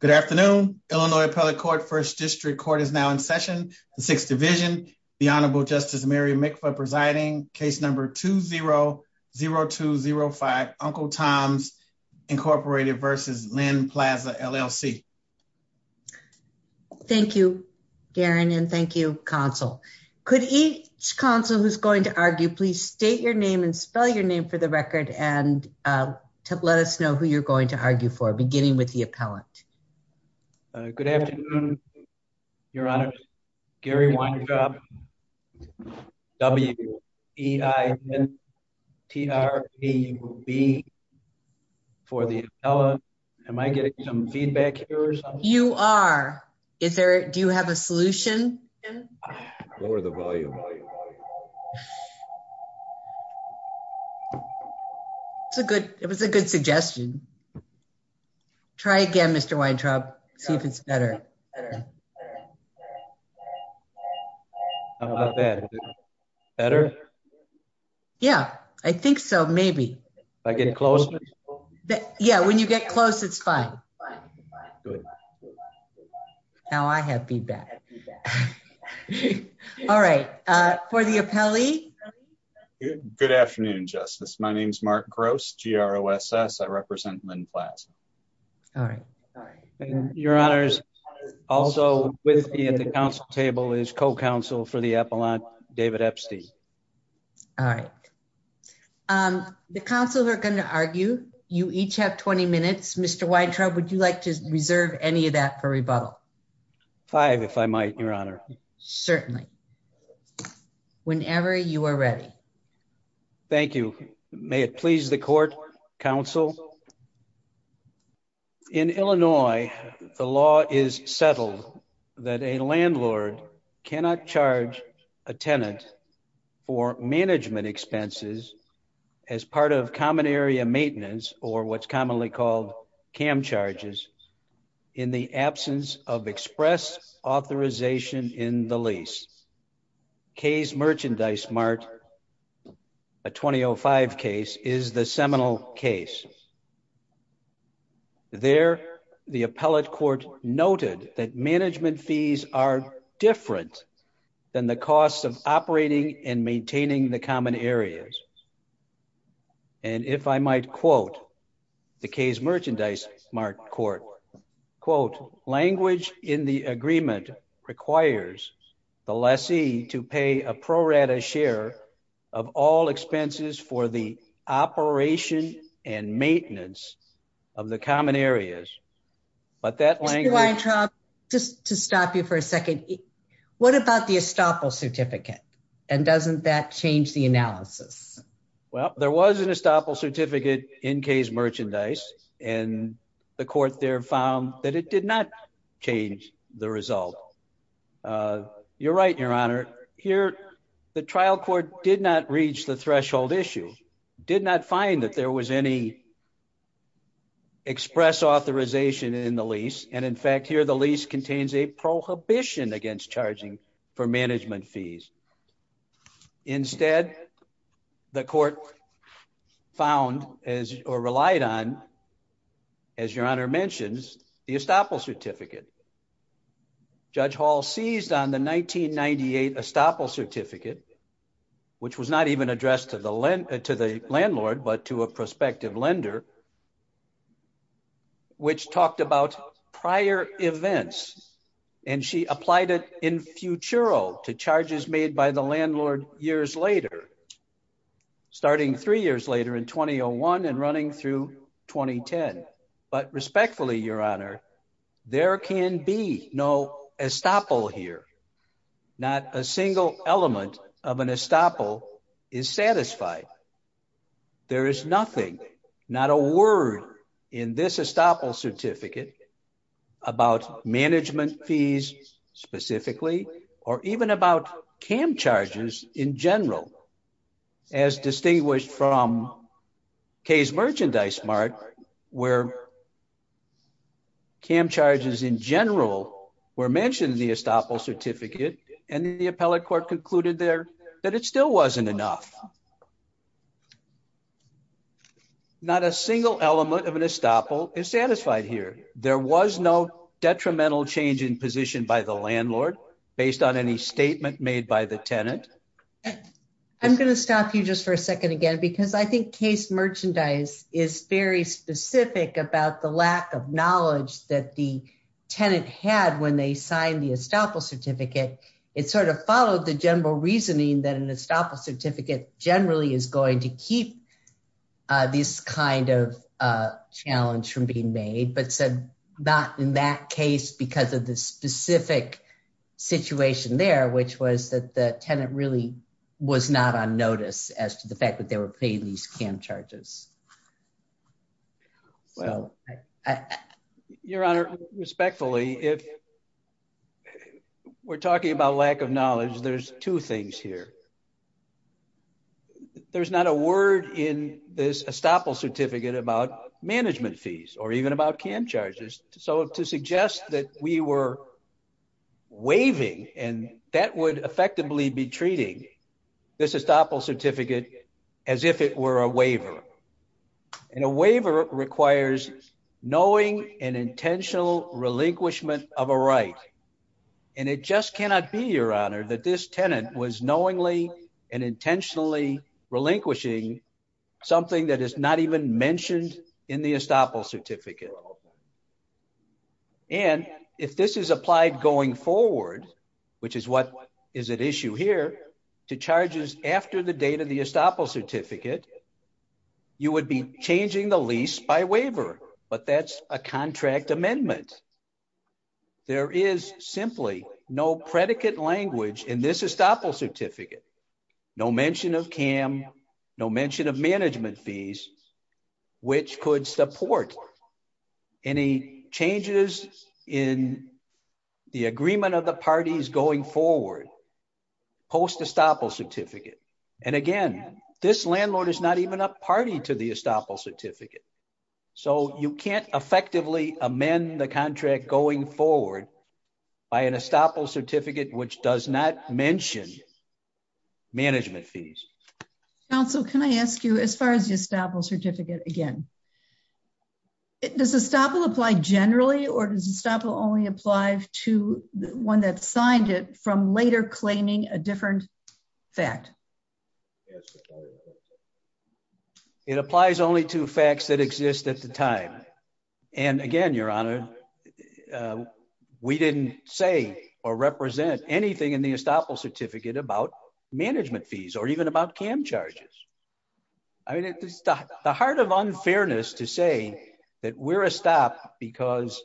Good afternoon, Illinois Appellate Court, First District Court is now in session, the Sixth Division, the Honorable Justice Mary Mikva presiding, case number 2-0-0205, Uncle Tom's Incorporated versus Lynn Plaza, LLC. Thank you, Darren, and thank you, counsel. Could each counsel who's going to argue, please state your name and spell your name for the record and let us know who you're going to argue for beginning with the appellant. Good afternoon, Your Honor. Gary Weintraub, W-E-I-N-T-R-A-U-B for the appellant. Am I getting some feedback here or something? You are. Is there, do you have a solution, Jim? Lower the volume. It's a good, it was a good suggestion. Try again, Mr. Weintraub. See if it's better. How about that? Better? Yeah, I think so, maybe. I get closer? Yeah, when you get close, it's fine. Now I have feedback. Now I have feedback. All right, for the appellee. Good afternoon, Justice. My name's Mark Gross, G-R-O-S-S. I represent Lynn Plaza. All right. Your Honors, also with me at the council table is co-counsel for the appellant, David Epstein. All right. The counsel who are going to argue, you each have 20 minutes. Mr. Weintraub, would you like to reserve any of that for rebuttal? Five, if I might, Your Honor. Certainly. Whenever you are ready. Thank you. May it please the court, counsel. In Illinois, the law is settled that a landlord cannot charge a tenant for management expenses as part of common area maintenance, or what's commonly called cam charges, in the absence of express authorization in the lease. Kay's Merchandise Mart, a 2005 case, is the seminal case. There, the appellate court noted that management fees are different than the costs of operating and maintaining the common areas. And if I might quote the Kay's Merchandise Mart court, quote, language in the agreement requires the lessee to pay a pro rata share of all expenses for the operation and maintenance of the common areas. But that language- Mr. Weintraub, just to stop you for a second, And doesn't that change the analysis? Well, there was an estoppel certificate in Kay's Merchandise and the court there found that it did not change the result. You're right, your honor. Here, the trial court did not reach the threshold issue, did not find that there was any express authorization in the lease. And in fact, here the lease contains a prohibition against charging for management fees. Instead, the court found or relied on, as your honor mentions, the estoppel certificate. Judge Hall seized on the 1998 estoppel certificate, which was not even addressed to the landlord, but to a prospective lender, which talked about prior events. And she applied it in futuro to charges made by the landlord years later, starting three years later in 2001 and running through 2010. But respectfully, your honor, there can be no estoppel here. Not a single element of an estoppel is satisfied. There is nothing, not a word in this estoppel certificate about management fees specifically, or even about cam charges in general, as distinguished from Kaye's Merchandise Mart, where cam charges in general were mentioned in the estoppel certificate, and the appellate court concluded there that it still wasn't enough. Not a single element of an estoppel is satisfied here, and there was no detrimental change in position by the landlord based on any statement made by the tenant. I'm gonna stop you just for a second again, because I think Kaye's Merchandise is very specific about the lack of knowledge that the tenant had when they signed the estoppel certificate. It sort of followed the general reasoning that an estoppel certificate generally is going to keep this kind of challenge from being made, but said not in that case because of the specific situation there, which was that the tenant really was not on notice as to the fact that they were paying these cam charges. Your Honor, respectfully, if we're talking about lack of knowledge, there's two things here. There's not a word in this estoppel certificate about management fees or even about cam charges. So to suggest that we were waiving, and that would effectively be treating this estoppel certificate as if it were a waiver. And a waiver requires knowing an intentional relinquishment of a right. And it just cannot be, Your Honor, that this tenant was knowingly and intentionally relinquishing something that is not even mentioned in the estoppel certificate. And if this is applied going forward, which is what is at issue here, to charges after the date of the estoppel certificate, you would be changing the lease by waiver, but that's a contract amendment. There is simply no predicate language in this estoppel certificate. No mention of cam, no mention of management fees, which could support any changes in the agreement of the parties going forward post estoppel certificate. And again, this landlord is not even a party to the estoppel certificate. So you can't effectively amend the contract going forward by an estoppel certificate, which does not mention management fees. Council, can I ask you, as far as the estoppel certificate again, does estoppel apply generally, or does estoppel only apply to the one that signed it from later claiming a different fact? It applies only to facts that exist at the time. And again, Your Honor, we didn't say or represent anything in the estoppel certificate about management fees or even about cam charges. I mean, it's the heart of unfairness to say that we're a stop because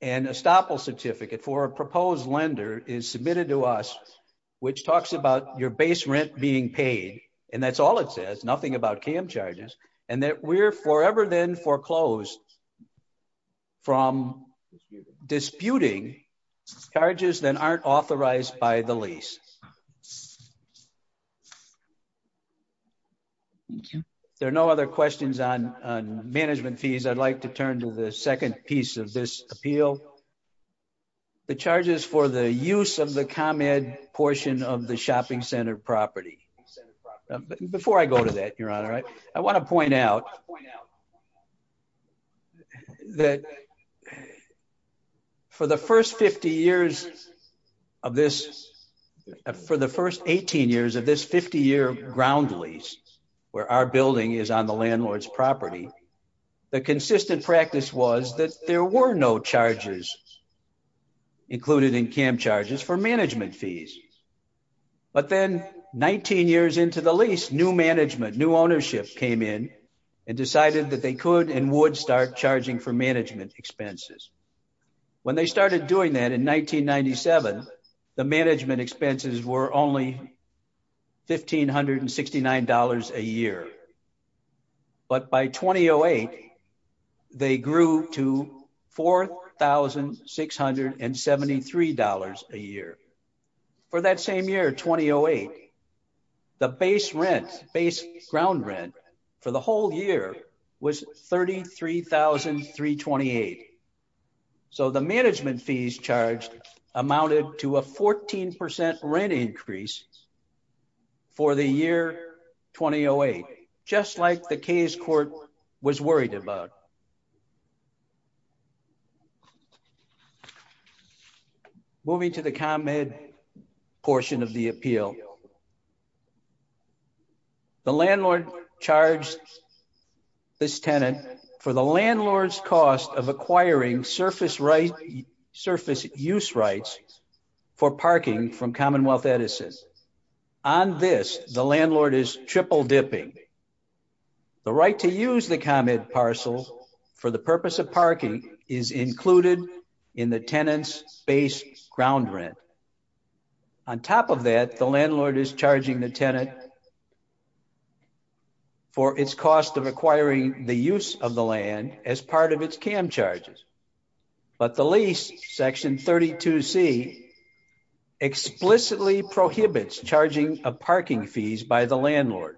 an estoppel certificate for a proposed lender is submitted to us, which talks about your base rent being paid. And that's all it says, nothing about cam charges, and that we're forever then foreclosed from disputing charges that aren't authorized by the lease. There are no other questions on management fees. I'd like to turn to the second piece of this appeal, the charges for the use of the com-ed portion of the shopping center property. Before I go to that, Your Honor, I wanna point out that for the first 50 years of this, for the first 18 years of this 50 year ground lease, where our building is on the landlord's property, the consistent practice was that there were no charges included in cam charges for management fees. But then 19 years into the lease, new management, new ownership came in and decided that they could and would start charging for management expenses. When they started doing that in 1997, the management expenses were only $1,569 a year. But by 2008, they grew to $4,673 a year. For that same year, 2008, the base rent, base ground rent for the whole year was $33,328. So the management fees charged amounted to a 14% rent increase for the year 2008, just like the case court was worried about. Moving to the ComEd portion of the appeal. The landlord charged this tenant for the landlord's cost of acquiring surface use rights for parking from Commonwealth Edison. On this, the landlord is triple dipping. The right to use the ComEd parcel for the purpose of parking is included in the tenant's base ground rent. On top of that, the landlord is charging the tenant for its cost of acquiring the use of the land as part of its cam charges. But the lease, section 32C, explicitly prohibits charging of parking fees by the landlord.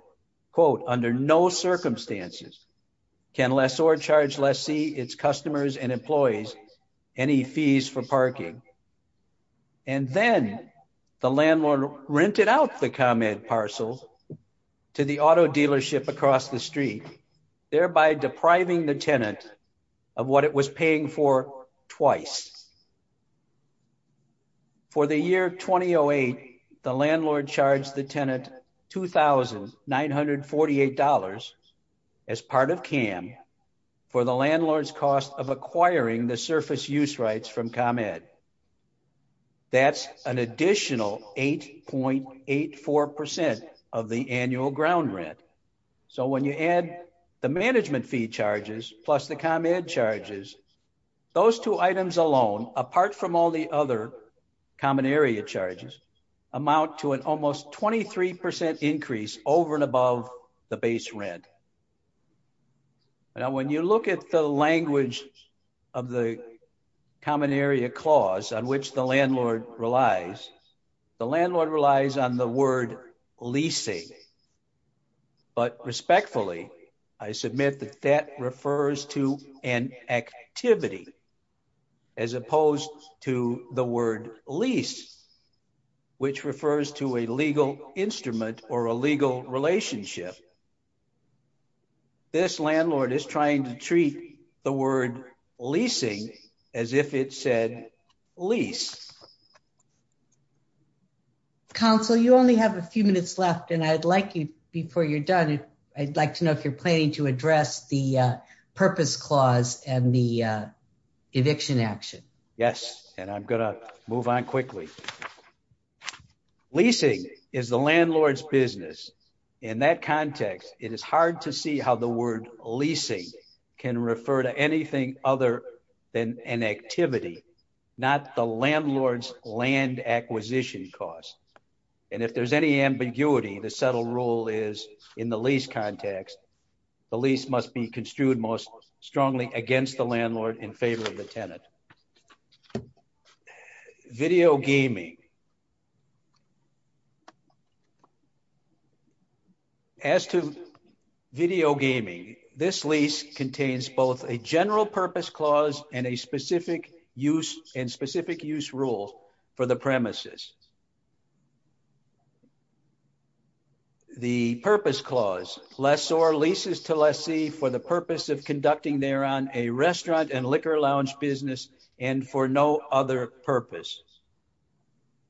Quote, under no circumstances, can lessor charge lessee, its customers and employees any fees for parking. And then the landlord rented out the ComEd parcel to the auto dealership across the street, thereby depriving the tenant of what it was paying for twice. The landlord is charging $948 as part of cam for the landlord's cost of acquiring the surface use rights from ComEd. That's an additional 8.84% of the annual ground rent. So when you add the management fee charges plus the ComEd charges, those two items alone, apart from all the other common area charges, amount to an almost 23% increase over and above the base rent. Now, when you look at the language of the common area clause on which the landlord relies, the landlord relies on the word leasing. But respectfully, I submit that that refers to an activity as opposed to the word lease. Which refers to a legal instrument or a legal relationship. This landlord is trying to treat the word leasing as if it said lease. Council, you only have a few minutes left and I'd like you, before you're done, I'd like to know if you're planning to address the purpose clause and the eviction action. Yes, and I'm gonna move on quickly. Leasing is the landlord's business. In that context, it is hard to see how the word leasing can refer to anything other than an activity, not the landlord's land acquisition cost. And if there's any ambiguity, the subtle rule is in the lease context, the lease must be construed most strongly against the landlord in favor of the tenant. All right, video gaming. As to video gaming, this lease contains both a general purpose clause and a specific use and specific use rule for the premises. The purpose clause, lessor leases to lessee for the purpose of conducting there on a restaurant and liquor lounge business and for no other purpose.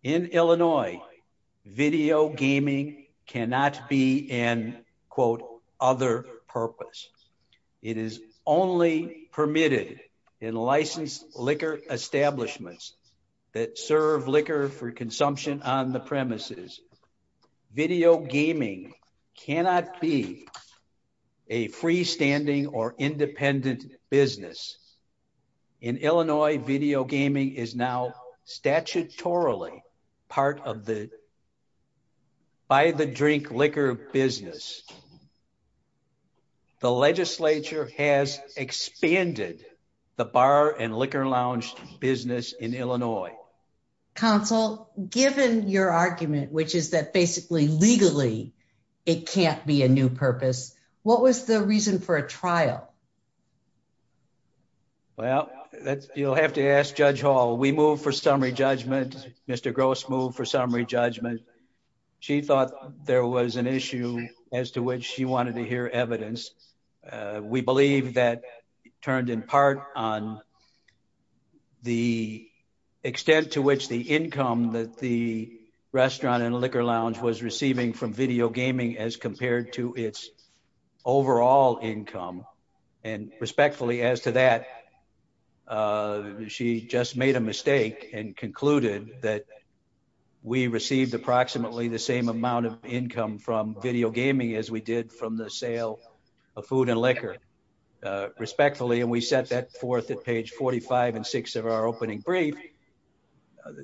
In Illinois, video gaming cannot be an, quote, other purpose. It is only permitted in licensed liquor establishments that serve liquor for consumption on the premises. Video gaming cannot be a freestanding or independent business. In Illinois, video gaming is now statutorily part of the buy the drink liquor business. The legislature has expanded the bar and liquor lounge business in Illinois. Counsel, given your argument, which is that basically legally it can't be a new purpose, what was the reason for a trial? Well, you'll have to ask Judge Hall. We moved for summary judgment. Mr. Gross moved for summary judgment. She thought there was an issue as to which she wanted to hear evidence. We believe that turned in part on the extent to which the income that the restaurant and liquor lounge was receiving from video gaming as compared to its overall income. And respectfully as to that, she just made a mistake and concluded that we received approximately the same amount of income from video gaming as we did from the sale of food and liquor, respectfully. And we set that forth at page 45 and six of our opening brief.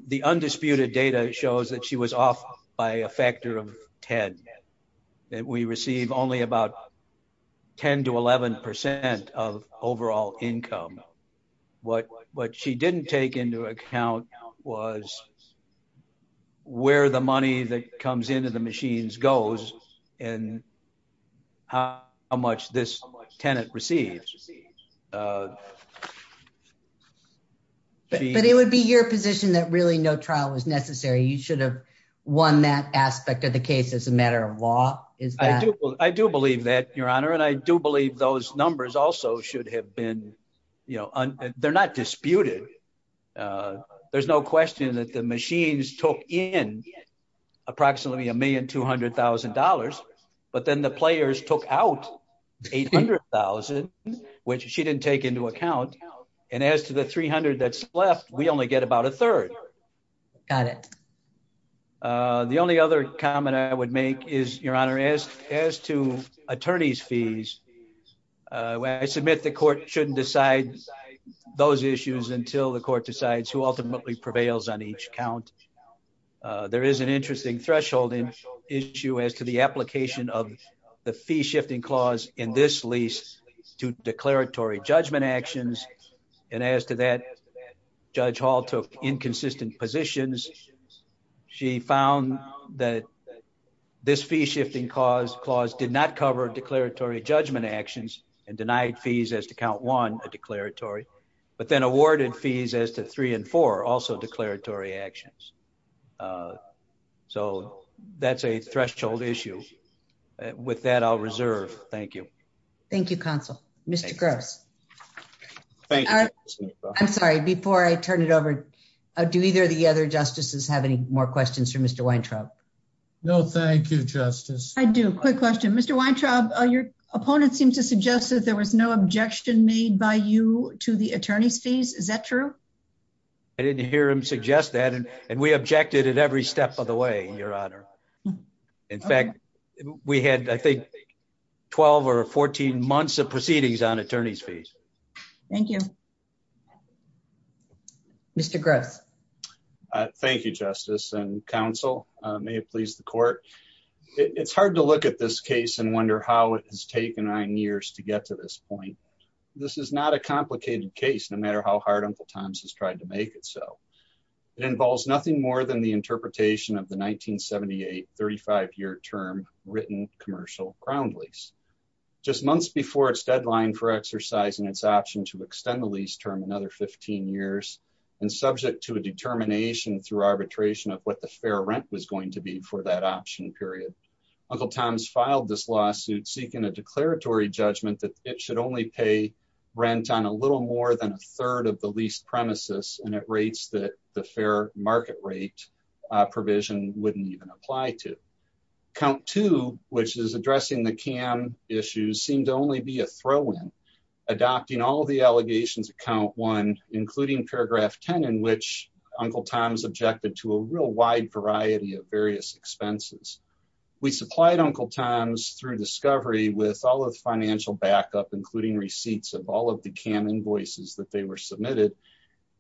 The undisputed data shows that she was off by a factor of 10. That we receive only about 10 to 11% of overall income. What she didn't take into account was where the money that comes into the machines goes and how much this tenant received. But it would be your position that really no trial was necessary. You should have won that aspect of the case as a matter of law, is that? I do believe that, Your Honor. And I do believe those numbers also should have been, they're not disputed. There's no question that the machines took in approximately $1,200,000, but then the players took out 800,000, which she didn't take into account. And as to the 300 that's left, we only get about a third. Got it. The only other comment I would make is, Your Honor, as to attorney's fees, when I submit the court shouldn't decide those issues until the court decides who ultimately prevails on each count. There is an interesting threshold issue as to the application of the fee shifting clause in this lease to declaratory judgment actions. And as to that, Judge Hall took inconsistent positions. She found that this fee shifting clause did not cover declaratory judgment actions and denied fees as to count one, a declaratory, but then awarded fees as to three and four, also declaratory actions. So that's a threshold issue. With that, I'll reserve. Thank you. Thank you, counsel. Mr. Gross. Thank you. I'm sorry, before I turn it over, do either of the other justices have any more questions for Mr. Weintraub? No, thank you, Justice. I do, quick question. Mr. Weintraub, your opponent seems to suggest that there was no objection made by you to the attorney's fees. Is that true? I didn't hear him suggest that, and we objected at every step of the way, Your Honor. In fact, we had, I think, 12 or 14 months of proceedings on attorney's fees. Thank you. Mr. Gross. Thank you, Justice and counsel. May it please the court. It's hard to look at this case and wonder how it has taken nine years to get to this point. This is not a complicated case, no matter how hard Uncle Tom's has tried to make it so. It involves nothing more than the interpretation of the 1978 35-year term written commercial ground lease. Just months before its deadline for exercising its option to extend the lease term another 15 years, and subject to a determination through arbitration of what the fair rent was going to be for that option period. Uncle Tom's filed this lawsuit seeking a declaratory judgment that it should only pay rent on a little more than a third of the lease premises, and at rates that the fair market rate provision wouldn't even apply to. Count two, which is addressing the cam issues seemed to only be a throw in, adopting all of the allegations of count one, including paragraph 10, in which Uncle Tom's objected to a real wide variety of various expenses. We supplied Uncle Tom's through discovery with all of the financial backup, including receipts of all of the cam invoices that they were submitted.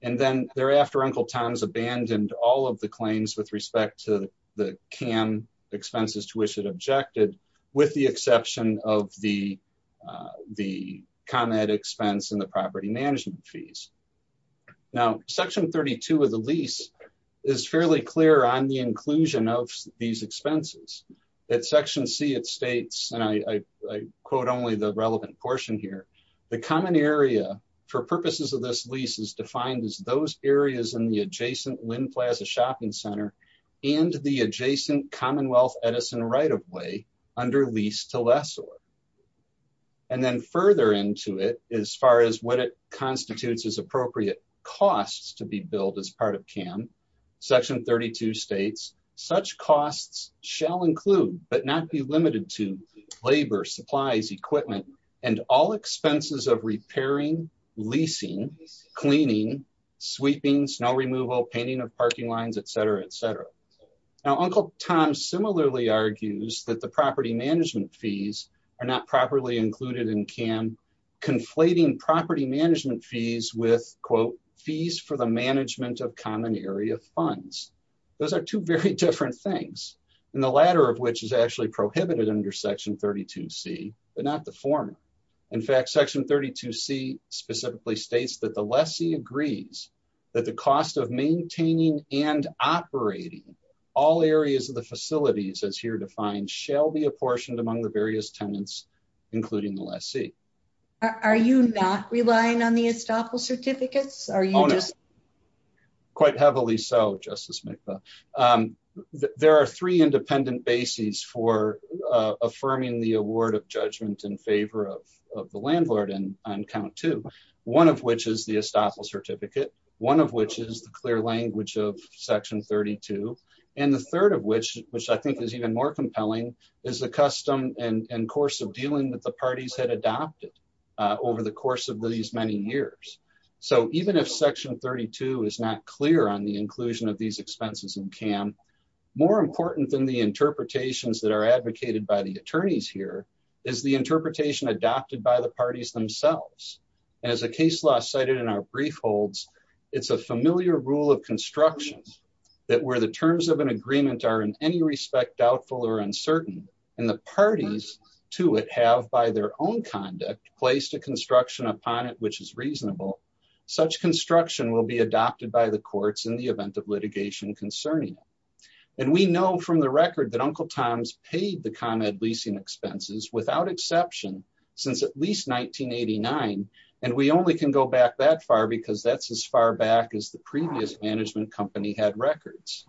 And then thereafter Uncle Tom's abandoned all of the claims with respect to the cam expenses to which it objected, with the exception of the com-ed expense and the property management fees. Now, section 32 of the lease is fairly clear on the inclusion of these expenses. At section C it states, and I quote only the relevant portion here, the common area for purposes of this lease is defined as those areas in the adjacent Lynn Plaza shopping center and the adjacent Commonwealth Edison right-of-way under lease to lessor. And then further into it, as far as what it constitutes as appropriate costs to be billed as part of cam, section 32 states, such costs shall include, but not be limited to labor, supplies, equipment, and all expenses of repairing, leasing, cleaning, sweeping, snow removal, painting of parking lines, et cetera, et cetera. Now, Uncle Tom similarly argues that the property management fees are not properly included in cam, conflating property management fees with quote, fees for the management of common area funds. Those are two very different things. And the latter of which is actually prohibited under section 32C, but not the former. In fact, section 32C specifically states that the lessee agrees that the cost of maintaining and operating all areas of the facilities as here defined shall be apportioned among the various tenants, including the lessee. Are you not relying on the estoppel certificates? Are you just- Quite heavily so Justice McBeth. There are three independent bases for affirming the award of judgment in favor of the landlord on count two. One of which is the estoppel certificate. One of which is the clear language of section 32. And the third of which, which I think is even more compelling is the custom and course of dealing that the parties had adopted over the course of these many years. So even if section 32 is not clear on the inclusion of these expenses in cam, more important than the interpretations that are advocated by the attorneys here is the interpretation adopted by the parties themselves. And as the case law cited in our brief holds, it's a familiar rule of constructions that where the terms of an agreement are in any respect doubtful or uncertain and the parties to it have by their own conduct placed a construction upon it, which is reasonable, such construction will be adopted by the courts in the event of litigation concerning it. And we know from the record that Uncle Tom's paid the ComEd leasing expenses without exception since at least 1989. And we only can go back that far because that's as far back as the previous management company had records.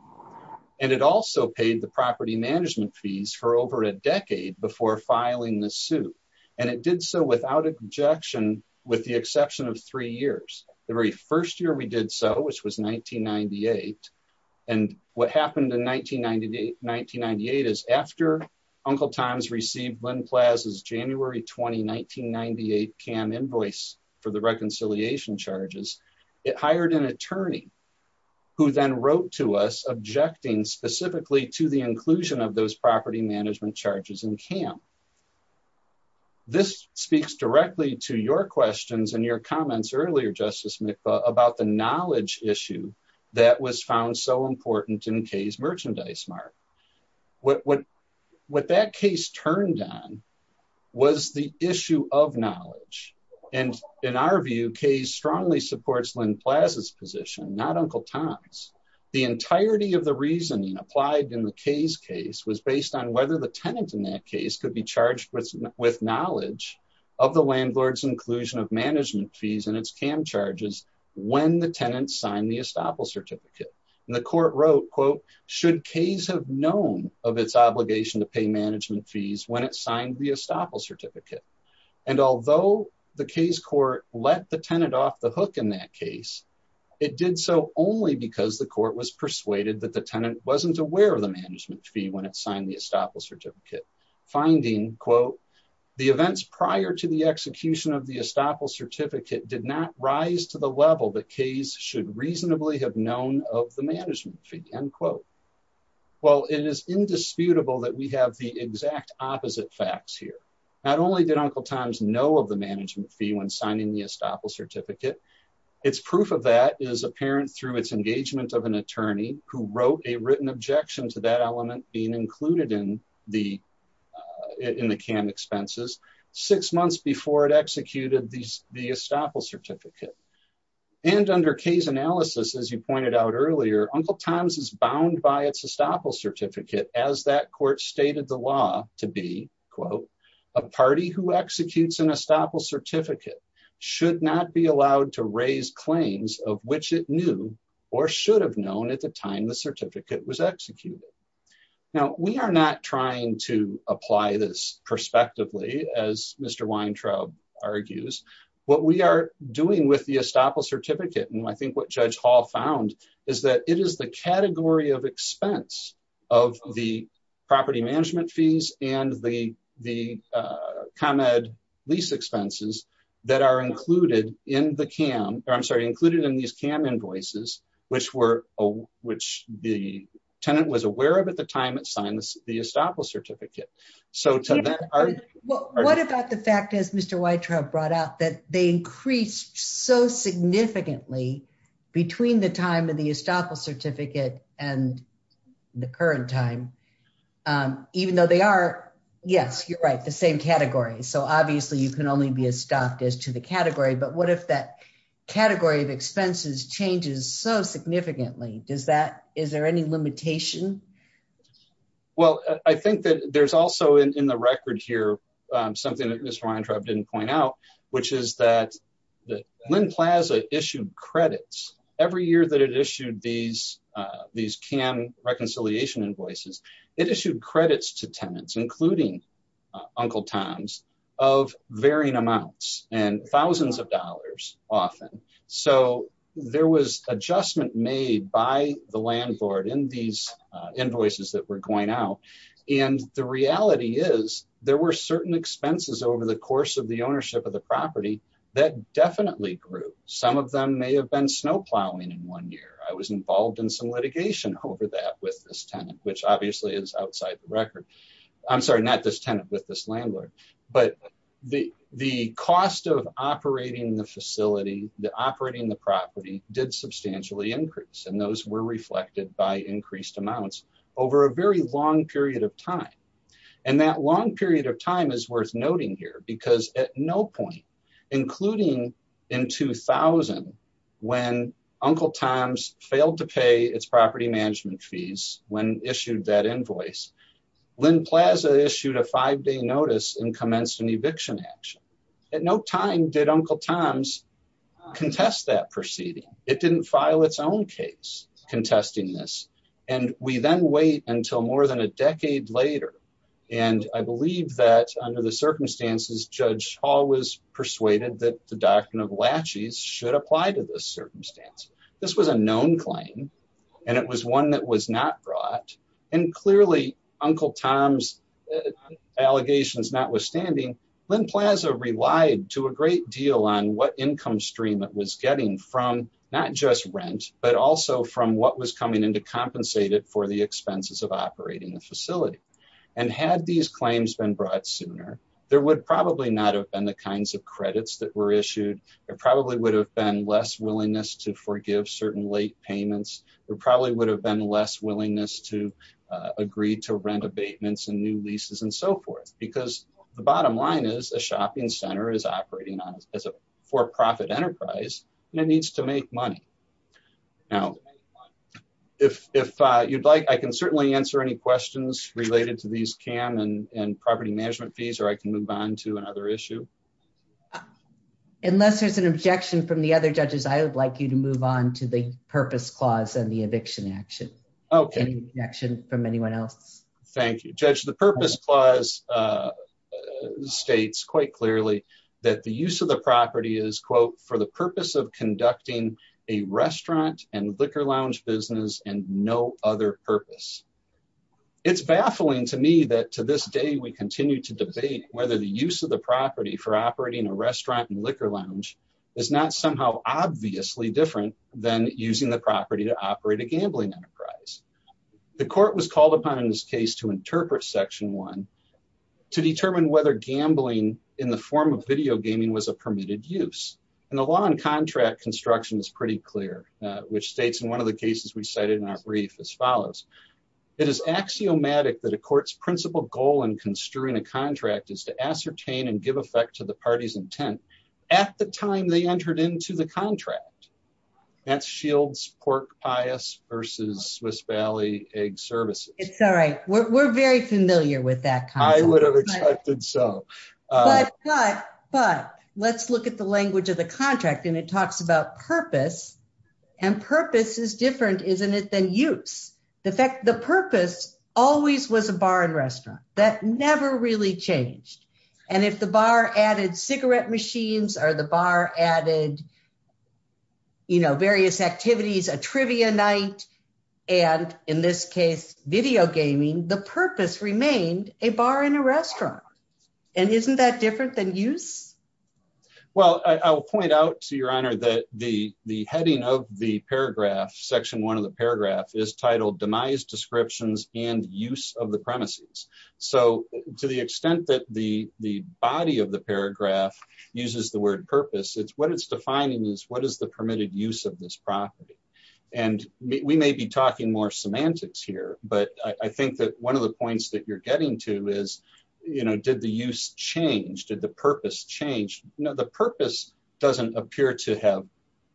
And it also paid the property management fees for over a decade before filing the suit. And it did so without objection with the exception of three years. The very first year we did so, which was 1998. And what happened in 1998 is after Uncle Tom's received Lynn Plaza's January 20, 1998 CAM invoice for the reconciliation charges, it hired an attorney who then wrote to us objecting specifically to the inclusion of those property management charges in CAM. This speaks directly to your questions and your comments earlier, Justice Mikva about the knowledge issue that was found so important in Kay's merchandise mark. What that case turned on was the issue of knowledge. And in our view, Kay's strongly supports Lynn Plaza's position, not Uncle Tom's. The entirety of the reasoning applied in the Kay's case was based on whether the tenant in that case could be charged with knowledge of the landlord's inclusion of management fees in its CAM charges when the tenant signed the estoppel certificate. And the court wrote, quote, should Kay's have known of its obligation to pay management fees when it signed the estoppel certificate. And although the Kay's court let the tenant off the hook in that case, it did so only because the court was persuaded that the tenant wasn't aware of the management fee when it signed the estoppel certificate. Finding, quote, the events prior to the execution of the estoppel certificate did not rise to the level that Kay's should reasonably have known of the management fee, end quote. Well, it is indisputable that we have the exact opposite facts here. Not only did Uncle Tom's know of the management fee when signing the estoppel certificate, it's proof of that is apparent through its engagement of an attorney who wrote a written objection to that element being included in the CAM expenses six months before it executed the estoppel certificate. And under Kay's analysis, as you pointed out earlier, Uncle Tom's is bound by its estoppel certificate as that court stated the law to be, quote, a party who executes an estoppel certificate should not be allowed to raise claims of which it knew or should have known at the time the certificate was executed. Now, we are not trying to apply this prospectively as Mr. Weintraub argues. What we are doing with the estoppel certificate, and I think what Judge Hall found is that it is the category of expense of the property management fees and the ComEd lease expenses that are included in the CAM, or I'm sorry, included in these CAM invoices, which the tenant was aware of at the time it signed the estoppel certificate. So to that- Well, what about the fact, as Mr. Weintraub brought out, that they increased so significantly between the time of the estoppel certificate and the current time, even though they are, yes, you're right, the same category. So obviously you can only be estopped as to the category, but what if that category of expenses changes so significantly? Is there any limitation? Well, I think that there's also in the record here something that Mr. Weintraub didn't point out, which is that Lynn Plaza issued credits. Every year that it issued these CAM reconciliation invoices, it issued credits to tenants, including Uncle Tom's, of varying amounts and thousands of dollars often. So there was adjustment made by the landlord in these invoices that were going out. And the reality is there were certain expenses over the course of the ownership of the property that definitely grew. Some of them may have been snow plowing in one year. I was involved in some litigation over that with this tenant, which obviously is outside the record. I'm sorry, not this tenant with this landlord, but the cost of operating the facility, the operating the property did substantially increase. And those were reflected by increased amounts over a very long period of time. And that long period of time is worth noting here because at no point, including in 2000, when Uncle Tom's failed to pay its property management fees when issued that invoice, Lynn Plaza issued a five-day notice and commenced an eviction action. At no time did Uncle Tom's contest that proceeding. It didn't file its own case contesting this. And we then wait until more than a decade later. And I believe that under the circumstances, Judge Hall was persuaded that the doctrine of laches should apply to this circumstance. This was a known claim and it was one that was not brought. And clearly Uncle Tom's allegations notwithstanding, Lynn Plaza relied to a great deal on what income stream it was getting from not just rent, but also from what was coming in to compensate it for the expenses of operating the facility. And had these claims been brought sooner, there would probably not have been the kinds of credits that were issued. There probably would have been less willingness to forgive certain late payments. There probably would have been less willingness to agree to rent abatements and new leases and so forth. Because the bottom line is a shopping center is operating as a for-profit enterprise and it needs to make money. Now, if you'd like, I can certainly answer any questions related to these CAM and property management fees, or I can move on to another issue. Unless there's an objection from the other judges, I would like you to move on to the purpose clause and the eviction action. Okay. Any objection from anyone else? Thank you. Judge, the purpose clause states quite clearly that the use of the property is, quote, for the purpose of conducting a restaurant and liquor lounge business and no other purpose. It's baffling to me that to this day, we continue to debate whether the use of the property for operating a restaurant and liquor lounge is not somehow obviously different than using the property to operate a gambling enterprise. The court was called upon in this case to interpret section one, to determine whether gambling in the form of video gaming was a permitted use. And the law on contract construction is pretty clear, which states in one of the cases we cited in our brief as follows. It is axiomatic that a court's principal goal in construing a contract is to ascertain and give effect to the party's intent at the time they entered into the contract. That's Shields Pork Pies versus Swiss Valley Egg Services. It's all right. We're very familiar with that concept. I would have expected so. But let's look at the language of the contract and it talks about purpose. And purpose is different, isn't it, than use. The purpose always was a bar and restaurant. That never really changed. And if the bar added cigarette machines or the bar added various activities, a trivia night, and in this case, video gaming, the purpose remained a bar and a restaurant. And isn't that different than use? Well, I will point out to your honor that the heading of the paragraph, section one of the paragraph, is titled demise descriptions and use of the premises. So to the extent that the body of the paragraph uses the word purpose, what it's defining is what is the permitted use of this property? And we may be talking more semantics here, but I think that one of the points that you're getting to is did the use change? Did the purpose change? No, the purpose doesn't appear to have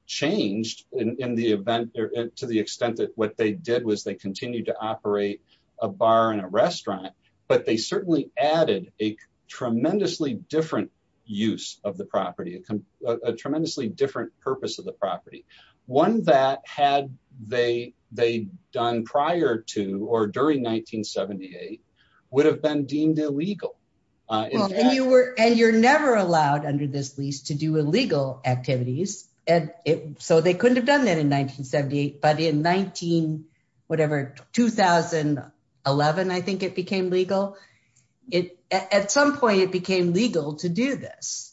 changed in the event to the extent that what they did was they continued to operate a bar and a restaurant, but they certainly added a tremendously different use of the property, a tremendously different purpose of the property. One that had they done prior to or during 1978 would have been deemed illegal. And you're never allowed under this lease to do illegal activities. So they couldn't have done that in 1978, but in 19, whatever, 2011, I think it became legal. At some point it became legal to do this.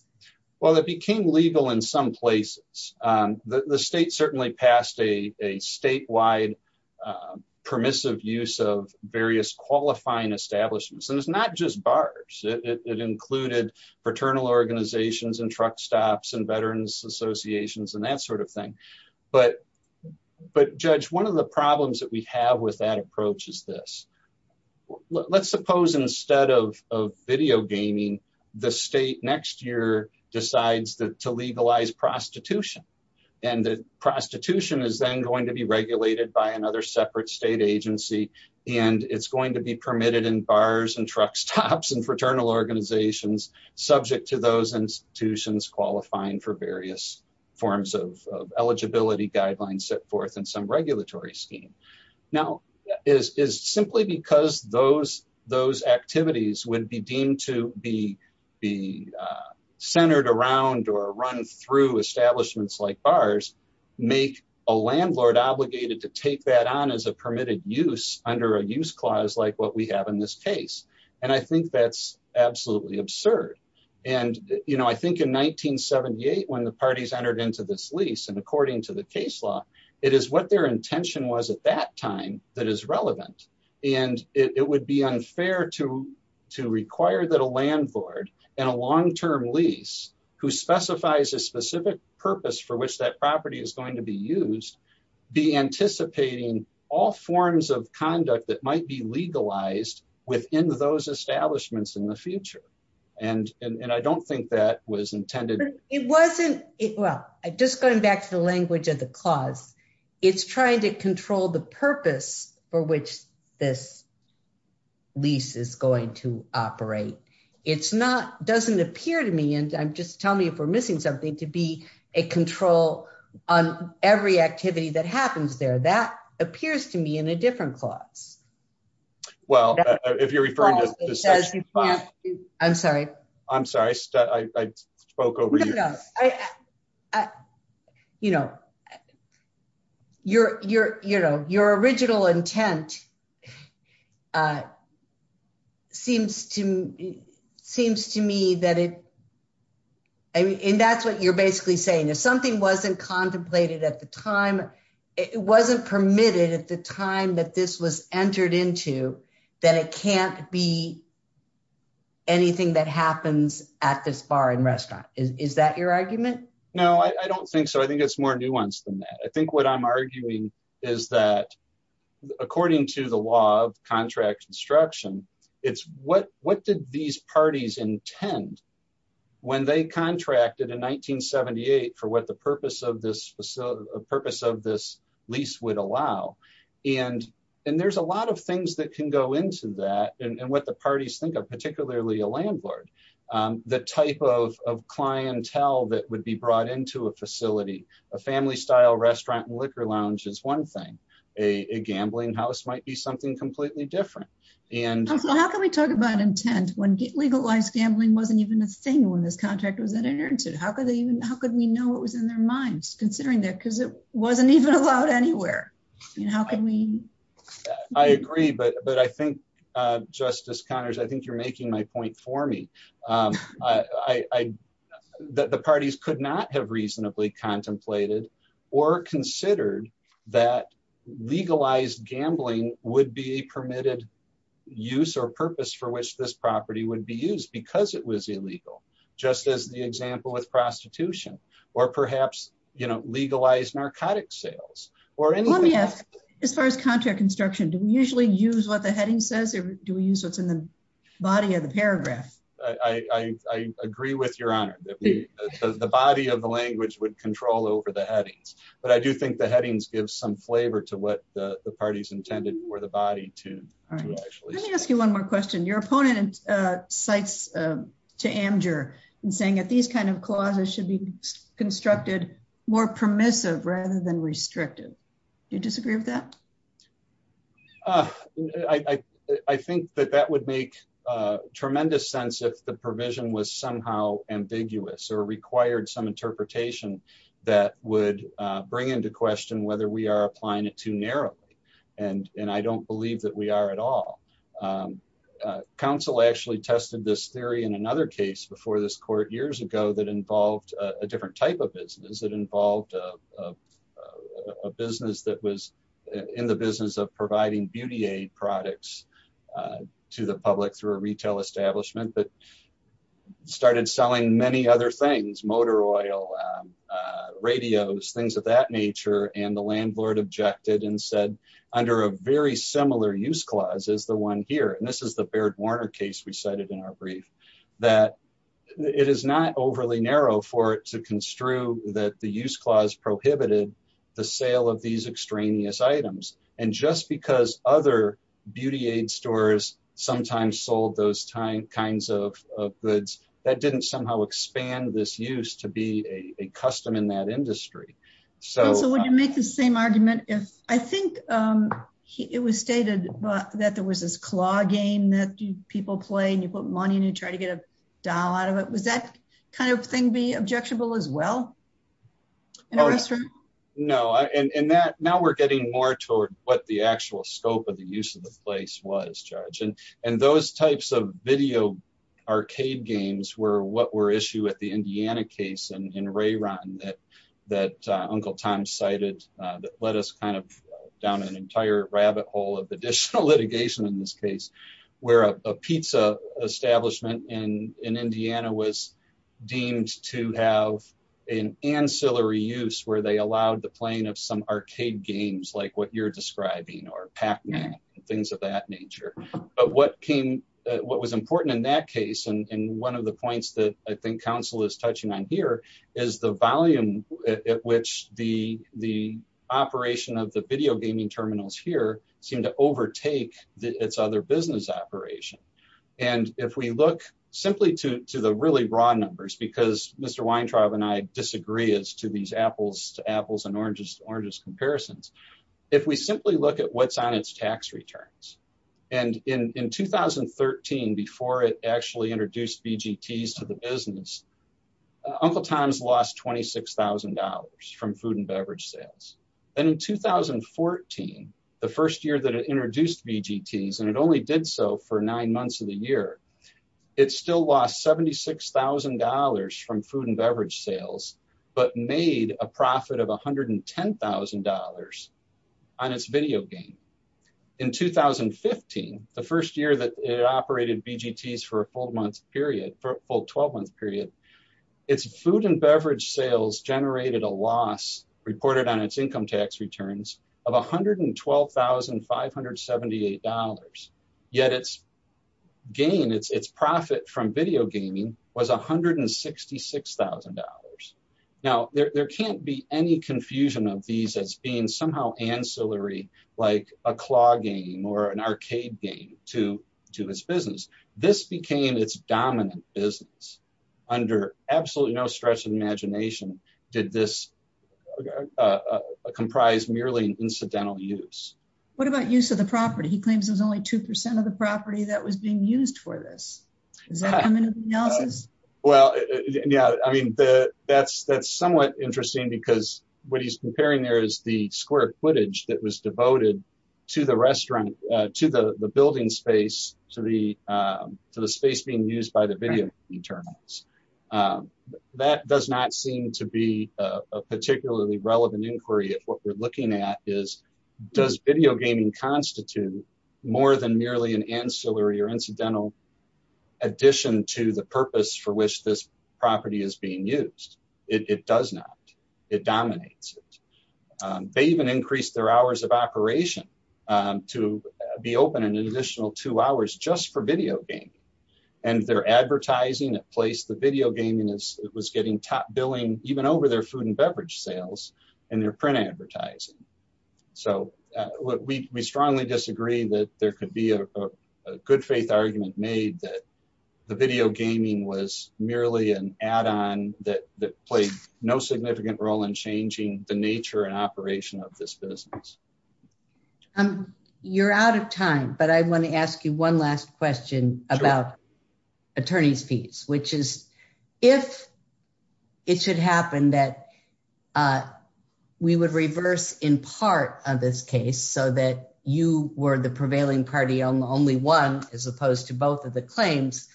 Well, it became legal in some places. The state certainly passed a statewide permissive use of various qualifying establishments. And it's not just bars. It included fraternal organizations and truck stops and veterans associations and that sort of thing. But judge, one of the problems that we have with that approach is this. Let's suppose instead of video gaming, the state next year decides to legalize prostitution. And the prostitution is then going to be regulated by another separate state agency. And it's going to be permitted in bars and truck stops and fraternal organizations subject to those institutions qualifying for various forms of eligibility guidelines set forth in some regulatory scheme. Now is simply because those activities would be deemed to be centered around or run through establishments like bars make a landlord obligated to take that on as a permitted use under a use clause like what we have in this case. And I think that's absolutely absurd. And I think in 1978, when the parties entered into this lease and according to the case law, it is what their intention was at that time that is relevant. And it would be unfair to require that a landlord and a long-term lease who specifies a specific purpose for which that property is going to be used be anticipating all forms of conduct that might be legalized within those establishments in the future. And I don't think that was intended. It wasn't, well, just going back to the language of the clause, it's trying to control the purpose for which this lease is going to operate. It's not, doesn't appear to me and just tell me if we're missing something to be a control on every activity that happens there. That appears to me in a different clause. Well, if you're referring to the section five. I'm sorry. I'm sorry, I spoke over you. No, no. Your original intent seems to me that it, I mean, and that's what you're basically saying. If something wasn't contemplated at the time, it wasn't permitted at the time that this was entered into that it can't be anything that happens at this bar and restaurant. Is that your argument? No, I don't think so. I think it's more nuanced than that. I think what I'm arguing is that according to the law of contract construction, it's what did these parties intend when they contracted in 1978 for what the purpose of this lease would allow. And there's a lot of things that can go into that and what the parties think of, particularly a landlord. The type of clientele that would be brought into a facility, a family style restaurant and liquor lounge is one thing. A gambling house might be something completely different. And- How can we talk about intent when legalized gambling wasn't even a thing when this contract was entered into? How could we know what was in their minds considering that? Because it wasn't even allowed anywhere. And how can we- I agree, but I think Justice Connors, I think you're making my point for me. That the parties could not have reasonably contemplated or considered that legalized gambling would be permitted use or purpose for which this property would be used because it was illegal. Just as the example with prostitution or perhaps legalized narcotics sales or anything else. Let me ask, as far as contract construction, do we usually use what the heading says or do we use what's in the body of the paragraph? I agree with your honor. The body of the language would control over the headings. But I do think the headings give some flavor to what the parties intended for the body to actually say. Let me ask you one more question. Your opponent cites to Amjur and saying that these kinds of clauses should be constructed more permissive rather than restrictive. You disagree with that? I think that that would make tremendous sense if the provision was somehow ambiguous or required some interpretation that would bring into question whether we are applying it too narrowly. And I don't believe that we are at all. Council actually tested this theory in another case before this court years ago that involved a different type of business. It involved a business that was in the business of providing beauty aid products to the public through a retail establishment that started selling many other things, motor oil, radios, things of that nature. And the landlord objected and said, under a very similar use clause as the one here. And this is the Baird Warner case we cited in our brief that it is not overly narrow for it to construe that the use clause prohibited the sale of these extraneous items. And just because other beauty aid stores sometimes sold those kinds of goods, that didn't somehow expand this use to be a custom in that industry. So- So would you make the same argument if, I think it was stated that there was this claw game that people play and you put money and you try to get a dollar out of it. Was that kind of thing be objectionable as well? In a restaurant? No, and that now we're getting more toward what the actual scope of the use of the place was, Judge. And those types of video arcade games were what were issue at the Indiana case in Ray Run that Uncle Tom cited that led us kind of down an entire rabbit hole of additional litigation in this case, where a pizza establishment in Indiana was deemed to have an ancillary use where they allowed the playing of some arcade games like what you're describing or Pac-Man and things of that nature. But what came, what was important in that case and one of the points that I think council is touching on here is the volume at which the operation of the video gaming terminals here seem to overtake its other business operation. And if we look simply to the really broad numbers because Mr. Weintraub and I disagree as to these apples to apples and oranges to oranges comparisons, if we simply look at what's on its tax returns and in 2013, before it actually introduced BGTs to the business, Uncle Tom's lost $26,000 from food and beverage sales. And in 2014, the first year that it introduced BGTs and it only did so for nine months of the year, it still lost $76,000 from food and beverage sales but made a profit of $110,000 on its video game. In 2015, the first year that it operated BGTs for a full month period, for a full 12 month period, its food and beverage sales generated a loss reported on its income tax returns of $112,578. Yet its gain, its profit from video gaming was $166,000. Now there can't be any confusion of these as being somehow ancillary like a claw game or an arcade game to his business. This became its dominant business under absolutely no stretch of the imagination did this comprise merely an incidental use. What about use of the property? He claims there's only 2% of the property that was being used for this. Does that come into the analysis? Well, yeah, I mean, that's somewhat interesting because what he's comparing there is the square footage that was devoted to the restaurant, to the building space, to the space being used by the video internals. That does not seem to be a particularly relevant inquiry of what we're looking at is, does video gaming constitute more than merely an ancillary or incidental addition to the purpose for which this property is being used? It does not, it dominates. They even increased their hours of operation to be open an additional two hours just for video game. And their advertising at place, the video gaming was getting top billing even over their food and beverage sales and their print advertising. So we strongly disagree that there could be a good faith argument made that the video gaming was merely an add-on that played no significant role in changing the nature and operation of this business. You're out of time, but I wanna ask you one last question about attorney's fees, which is if it should happen that we would reverse in part of this case so that you were the prevailing party on the only one, as opposed to both of the claims,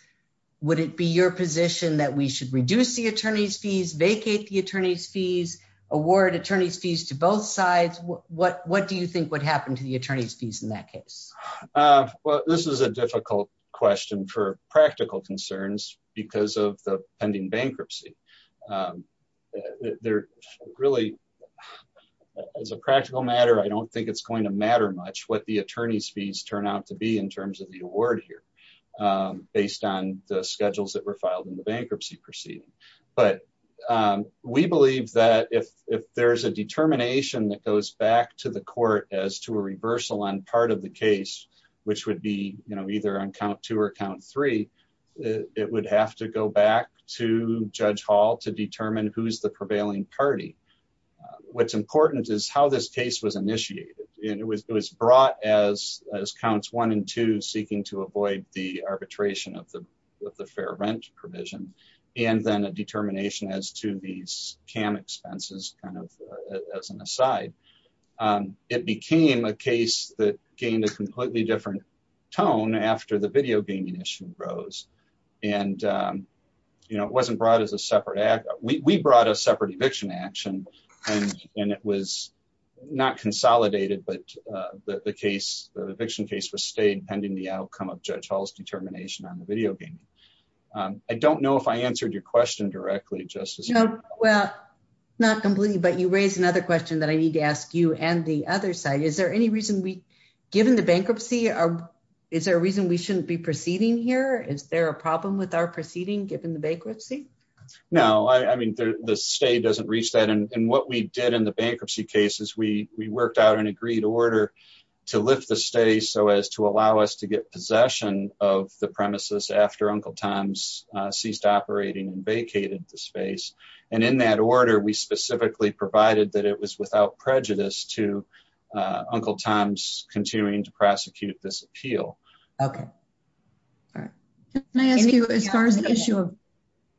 would it be your position that we should reduce the attorney's fees, vacate the attorney's fees, award attorney's fees to both sides? What do you think would happen to the attorney's fees in that case? Well, this is a difficult question for practical concerns because of the pending bankruptcy. As a practical matter, I don't think it's going to matter much what the attorney's fees turn out to be in terms of the award here based on the schedules that were filed in the bankruptcy proceeding. But we believe that if there's a determination that goes back to the court as to a reversal on part of the case, which would be either on count two or count three, it would have to go back to Judge Hall to determine who's the prevailing party. What's important is how this case was initiated. And it was brought as counts one and two seeking to avoid the arbitration of the fair rent provision. And then a determination as to these CAM expenses kind of as an aside. It became a case that gained a completely different tone after the video gaming issue rose. And it wasn't brought as a separate act. We brought a separate eviction action and it was not consolidated, but the case, the eviction case was staying pending the outcome of Judge Hall's determination on the video gaming. I don't know if I answered your question directly, Justice- Well, not completely, but you raised another question that I need to ask you and the other side. Is there any reason we, given the bankruptcy, is there a reason we shouldn't be proceeding here? Is there a problem with our proceeding given the bankruptcy? No, I mean, the stay doesn't reach that. And what we did in the bankruptcy case is we worked out an agreed order to lift the stay so as to allow us to get possession of the premises after Uncle Tom's ceased operating and vacated the space. And in that order, we specifically provided that it was without prejudice to Uncle Tom's continuing to prosecute this appeal. Okay. All right. Can I ask you as far as the issue of,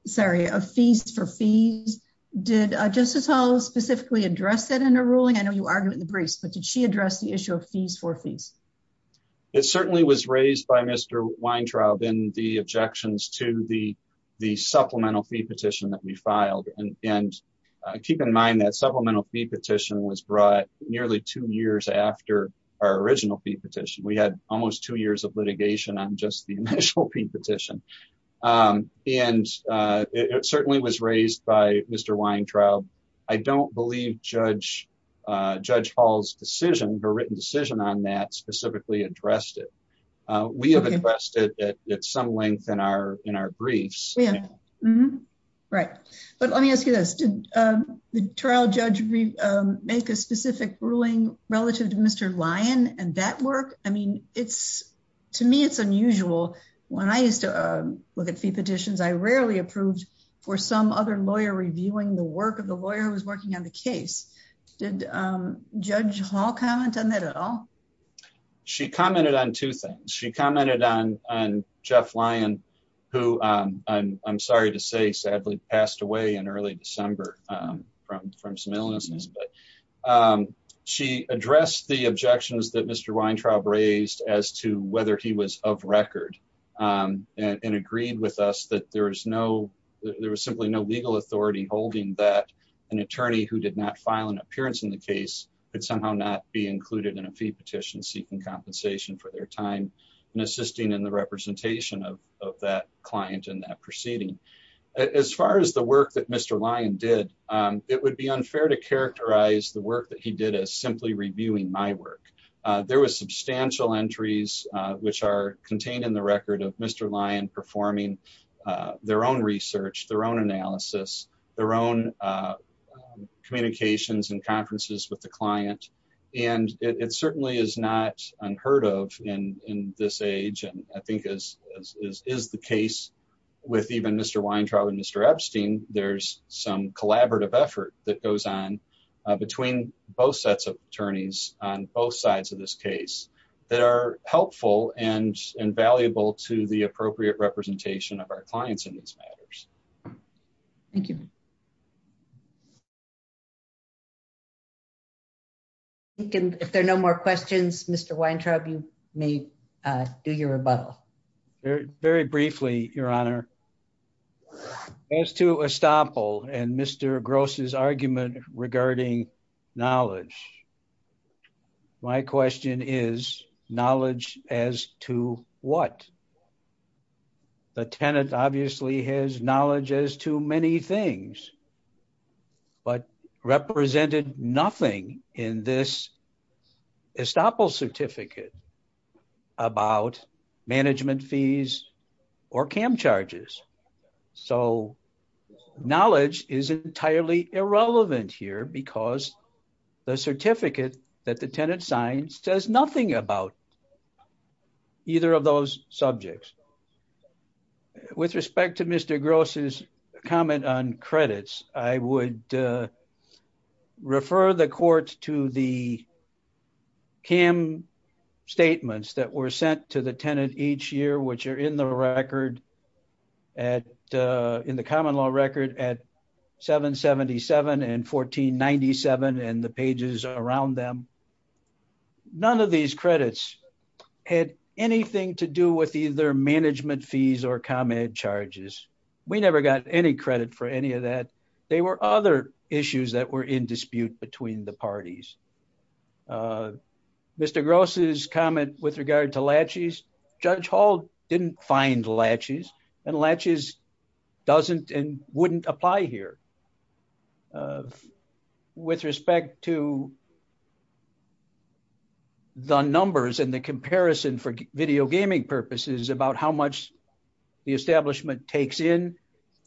sorry, of fees for fees, did Justice Hall specifically address that in a ruling? I know you argued with the briefs, but did she address the issue of fees for fees? It certainly was raised by Mr. Weintraub in the objections to the supplemental fee petition that we filed. And keep in mind that supplemental fee petition was brought nearly two years after our original fee petition. We had almost two years of litigation on just the initial fee petition. And it certainly was raised by Mr. Weintraub. I don't believe Judge Hall's decision, her written decision on that specifically addressed it. We have addressed it at some length in our briefs. Right. But let me ask you this, did the trial judge make a specific ruling relative to Mr. Lyon and that work? I mean, to me, it's unusual. When I used to look at fee petitions, I rarely approved for some other lawyer reviewing the work of the lawyer who was working on the case. Did Judge Hall comment on that at all? She commented on two things. She commented on Jeff Lyon, who I'm sorry to say sadly passed away in early December from some illnesses. But she addressed the objections that Mr. Weintraub raised as to whether he was of record and agreed with us that there was simply no legal authority holding that an attorney who did not file an appearance in the case could somehow not be included in a fee petition seeking compensation for their time and assisting in the representation of that client in that proceeding. As far as the work that Mr. Lyon did, it would be unfair to characterize the work that he did as simply reviewing my work. There was substantial entries, which are contained in the record of Mr. Lyon performing their own research, their own analysis, their own communications and conferences with the client. And it certainly is not unheard of in this age. And I think as is the case with even Mr. Weintraub and Mr. Epstein, there's some collaborative effort that goes on between both sets of attorneys on both sides of this case that are helpful and valuable to the appropriate representation of our clients in these matters. Thank you. If there are no more questions, Mr. Weintraub, you may do your rebuttal. Very briefly, Your Honor. As to Estoppel and Mr. Gross's argument regarding knowledge, my question is knowledge as to what? The tenant obviously has knowledge as to many things, but represented nothing in this Estoppel certificate about management fees or CAM charges. So knowledge is entirely irrelevant here because the certificate that the tenant signs says nothing about either of those subjects. With respect to Mr. Gross's comment on credits, I would refer the court to the CAM statements that were sent to the tenant each year, which are in the record, in the common law record at 777 and 1497 and the pages around them. None of these credits had anything to do with either management fees or CAM charges. We never got any credit for any of that. They were other issues that were in dispute between the parties. Mr. Gross's comment with regard to laches, Judge Hall didn't find laches and laches doesn't and wouldn't apply here. With respect to the numbers and the comparison for video gaming purposes about how much the establishment takes in,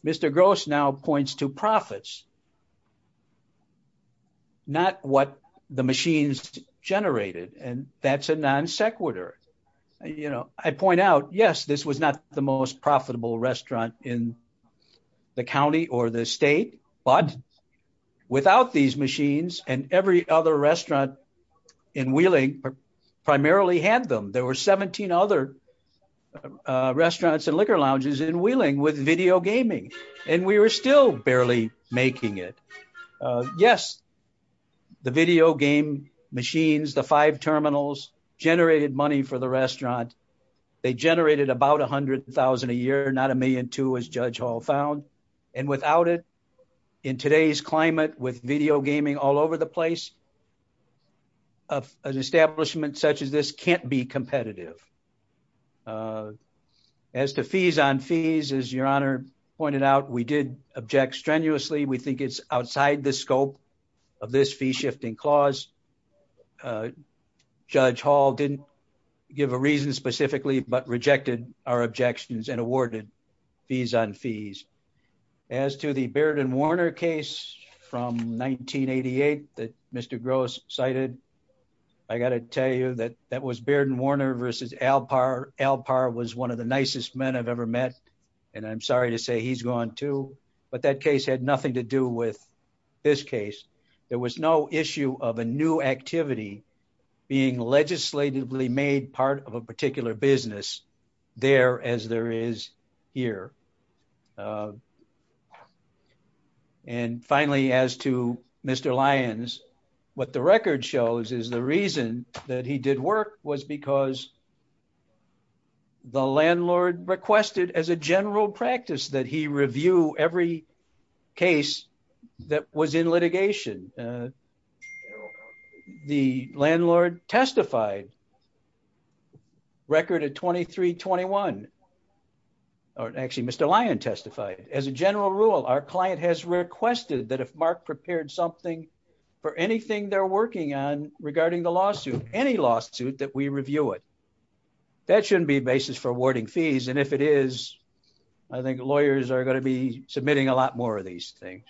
Mr. Gross now points to profits, not what the machines generated, and that's a non sequitur. I point out, yes, this was not the most profitable restaurant in the county or the state, but without these machines and every other restaurant in Wheeling primarily had them. There were 17 other restaurants and liquor lounges in Wheeling with video gaming and we were still barely making it. Yes, the video game machines, the five terminals generated money for the restaurant. They generated about 100,000 a year, not a million two as Judge Hall found. And without it, in today's climate with video gaming all over the place, an establishment such as this can't be competitive. As to fees on fees, as your honor pointed out, we did object strenuously. We think it's outside the scope of this fee shifting clause. Judge Hall didn't give a reason specifically, but rejected our objections and awarded fees on fees. As to the Baird and Warner case from 1988 that Mr. Gross cited, I gotta tell you that that was Baird and Warner versus Alpar. Alpar was one of the nicest men I've ever met, and I'm sorry to say he's gone too, but that case had nothing to do with this case. There was no issue of a new activity being legislatively made part of a particular business there as there is here. And finally, as to Mr. Lyons, what the record shows is the reason that he did work was because the landlord requested as a general practice that he review every case that was in litigation. The landlord testified, record at 2321, or actually Mr. Lyons testified. As a general rule, our client has requested that if Mark prepared something for anything they're working on regarding the lawsuit, any lawsuit that we review it, that shouldn't be a basis for awarding fees. And if it is, I think lawyers are gonna be submitting a lot more of these things.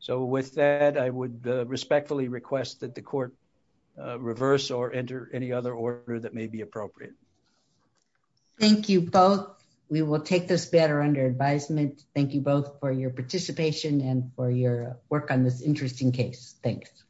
So with that, I would respectfully request that the court reverse or enter any other order that may be appropriate. Thank you both. We will take this better under advisement. Thank you both for your participation and for your work on this interesting case. Thanks.